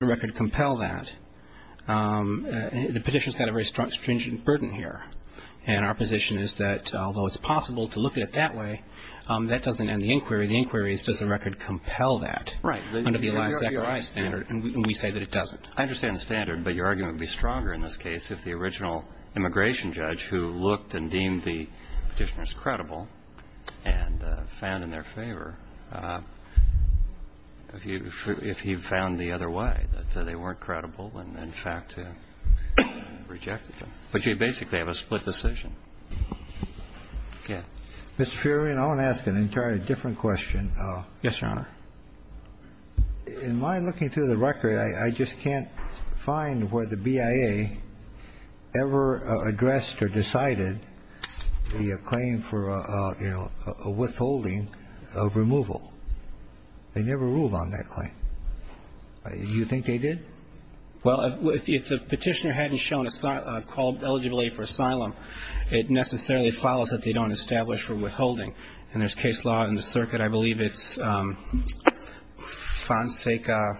The record compel that. The petition's got a very stringent burden here. And our position is that although it's possible to look at it that way, that doesn't end the inquiry. The inquiry is does the record compel that under the Eli Zechariah standard, and we say that it doesn't. I understand the standard, but your argument would be stronger in this case if the original immigration judge who looked and deemed the petitioners credible and found in their favor, if he found the other way, that they weren't credible and in fact rejected them. But you basically have a split decision. Yeah. Q Mr. Furion, I want to ask an entirely different question. A Yes, Your Honor. Q In my looking through the record, I just can't find where the BIA ever addressed or decided the claim for, you know, a withholding of removal. They never ruled on that claim. You think they did? A Well, if the petitioner hadn't shown a called eligibility for asylum, it necessarily follows that they don't establish for withholding. And there's case law in the circuit. I believe it's Fonseca.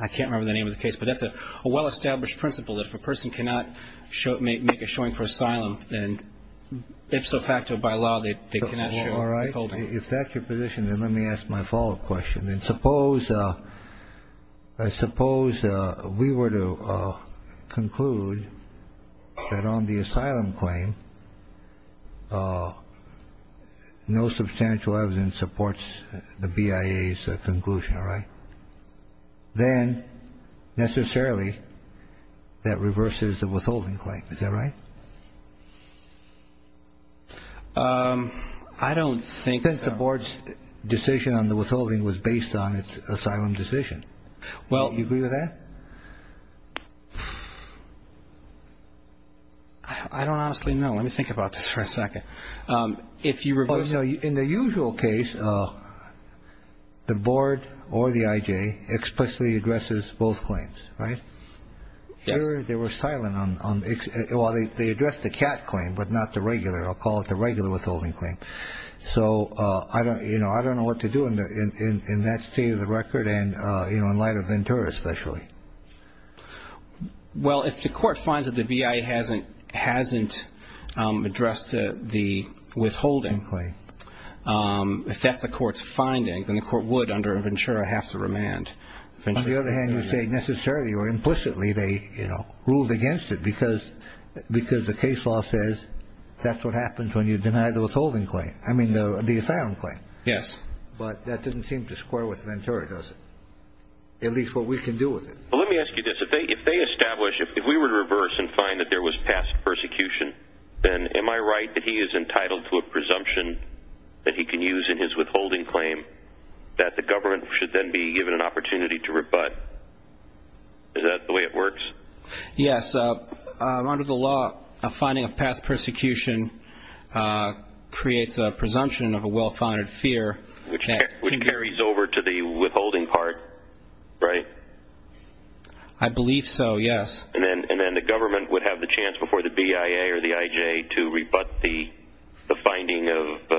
I can't remember the name of the case. But that's a well-established principle that if a person cannot make a showing for asylum, then ipso facto, by law, they cannot show withholding. Q All right. If that's your position, then let me ask my follow-up question. And suppose we were to conclude that on the asylum claim, no substantial evidence supports the BIA's conclusion. All right? Then, necessarily, that reverses the withholding claim. Is that right? A I don't think so. Q I think the Board's decision on the withholding was based on its asylum decision. A Well. Q Do you agree with that? A I don't honestly know. Let me think about this for a second. If you reverse the BIA's decision on the withholding claim, then the Board's decision on the BIA's decision Q Well, in the usual case, the Board or the IJ explicitly addresses both claims. Right? A Yes. Q Here, they were silent on the they addressed the CAT claim, but not the regular. I'll call it the regular withholding claim. So I don't know what to do in that state of the record and in light of Ventura, especially. Q Well, if the Court finds that the BIA hasn't addressed the withholding claim, if that's the Court's finding, then the Court would, under Ventura, have to remand. A On the other hand, you say necessarily or implicitly they ruled against it because the case law says that's what happens when you deny the withholding claim. I mean, the asylum claim. Q Yes. A But that doesn't seem to square with Ventura, does it? At least what we can do with it. Q Well, let me ask you this. If they establish, if we were to reverse and find that there was past persecution, then am I right that he is entitled to a presumption that he can use in his withholding claim that the government should then be given an opportunity to rebut? Is that the way it works? A Yes. Under the law, a finding of past persecution creates a presumption of a well-founded fear. Q Which carries over to the withholding part, right? A I believe so, yes. Q And then the government would have the chance before the BIA or the IJ to rebut the finding of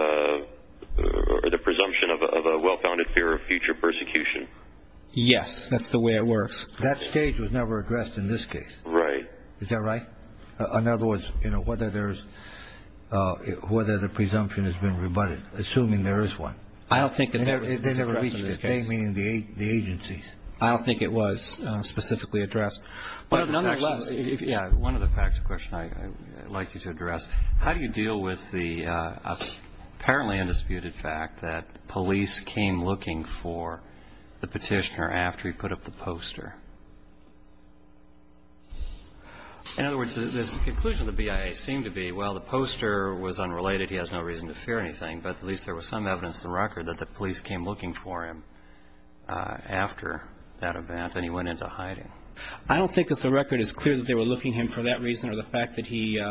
or the presumption of a well-founded fear of future persecution? A Yes. That's the way it works. Q That stage was never addressed in this case. A Right. Q Is that right? In other words, you know, whether there's, whether the presumption has been rebutted, assuming there is one. A I don't think that that was addressed in this case. Q They never reached this case, meaning the agencies. A I don't think it was. Q Specifically addressed. Q But nonetheless, if you have one other practical question I'd like you to address, how do you deal with the apparently undisputed fact that police came looking for the petitioner after he put up the poster? In other words, the conclusion of the BIA seemed to be, well, the poster was unrelated, he has no reason to fear anything, but at least there was some evidence in the record that the police came looking for him after that event and he went into hiding. A I don't think that the record is clear that they were looking for him for that reason or the fact that he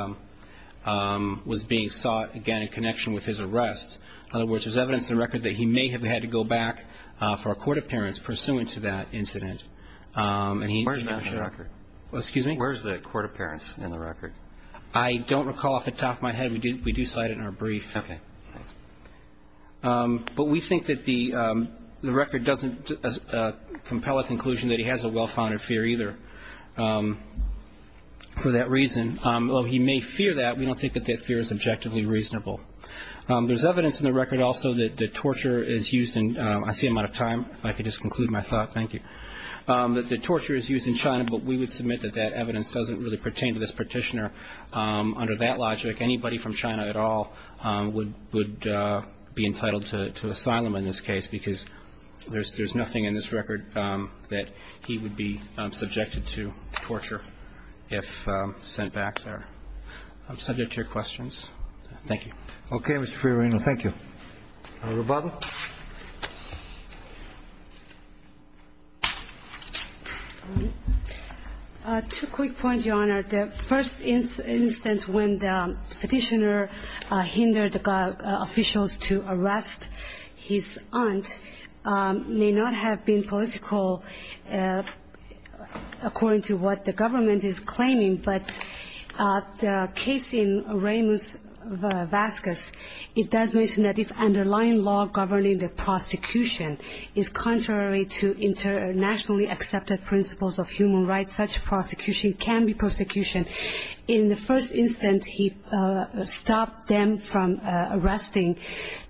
was being sought, again, in connection with his arrest. In other words, there's evidence in the record that he may have had to go back for a court appearance pursuant to that incident. Q Where's that in the record? A Excuse me? Q Where's the court appearance in the record? A I don't recall off the top of my head. We do cite it in our brief. Q Okay. A But we think that the record doesn't compel a conclusion that he has a well-founded fear either. For that reason, although he may fear that, we don't think that that fear is objectively reasonable. There's evidence in the record also that the torture is used in – I see I'm out of time. If I could just conclude my thought, thank you – that the torture is used in China, but we would submit that that evidence doesn't really pertain to this petitioner. Under that logic, anybody from China at all would be entitled to asylum in this case because there's nothing in this record that he would be subjected to torture if sent back there. I'm subject to your questions. Thank you. Q Okay, Mr. Fiorino. Thank you. Robado? Q Two quick points, Your Honor. The first instance when the petitioner hindered officials to arrest his aunt may not have been political according to what the government is claiming. But the case in Ramos-Vasquez, it does mention that if underlying law governing the prosecution is contrary to internationally accepted principles of human rights, such prosecution can be prosecution. In the first instance, he stopped them from arresting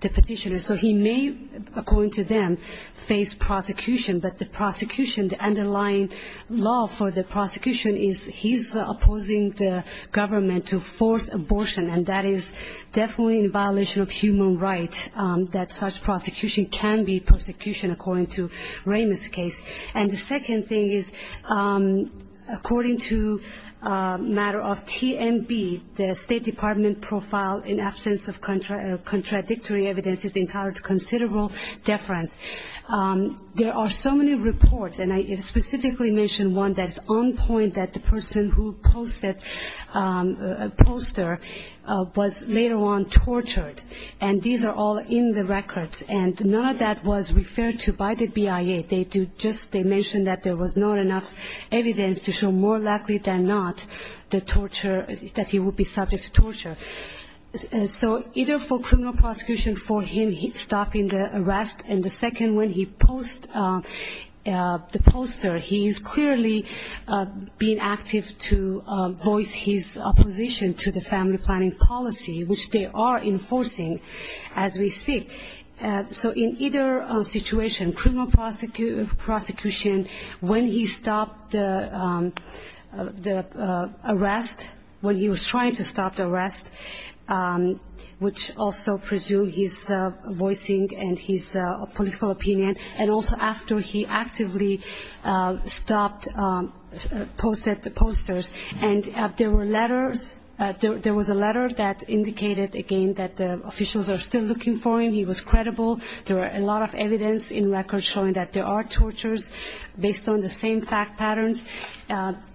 the petitioner. So he may, according to them, face prosecution. But the prosecution, the underlying law for the prosecution is he's opposing the government to force abortion, and that is definitely in violation of human rights that such prosecution can be prosecution, according to Ramos' case. And the second thing is, according to a matter of TMB, the State Department profile in absence of contradictory evidence is entitled to considerable deference. There are so many reports, and I specifically mentioned one that's on point, that the person who posted a poster was later on tortured. And these are all in the records. And none of that was referred to by the BIA. They mentioned that there was not enough evidence to show more likely than not the torture, that he would be subject to torture. So either for criminal prosecution for him, he's stopping the arrest, and the second one, he posts the poster. He is clearly being active to voice his opposition to the family planning policy, which they are enforcing as we speak. So in either situation, criminal prosecution, when he stopped the arrest, when he was trying to stop the arrest, which also pursued his voicing and his political opinion, and also after he actively stopped, posted the posters. And there were letters, there was a letter that indicated, again, that the officials are still looking for him. He was credible. There are a lot of evidence in records showing that there are tortures based on the same fact patterns.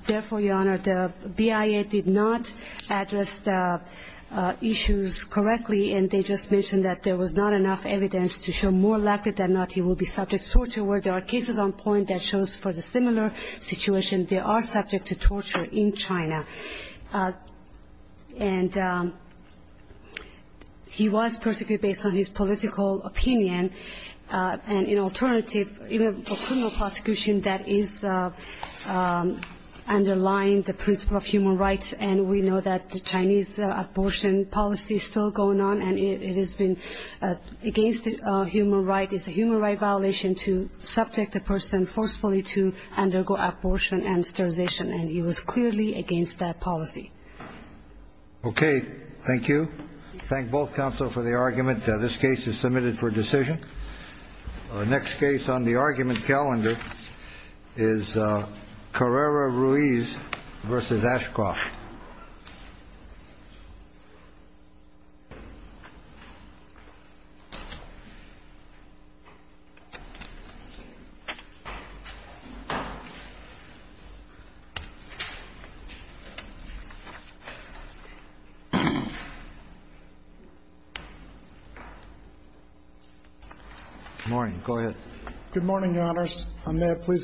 Therefore, Your Honor, the BIA did not address the issues correctly, and they just mentioned that there was not enough evidence to show more likely than not he will be subject to torture. Where there are cases on point that shows for the similar situation, they are subject to torture in China. And he was persecuted based on his political opinion. And in alternative, even for criminal prosecution, that is underlying the principle of human rights, and we know that the Chinese abortion policy is still going on, and it has been against human right. It's a human right violation to subject a person forcefully to undergo abortion and sterilization, and he was clearly against that policy. Okay. Thank you. Thank both counsel for the argument. This case is submitted for decision. Next case on the argument calendar is Carrera Ruiz versus Ashcroft. Good morning. Go ahead. Good morning, Your Honors.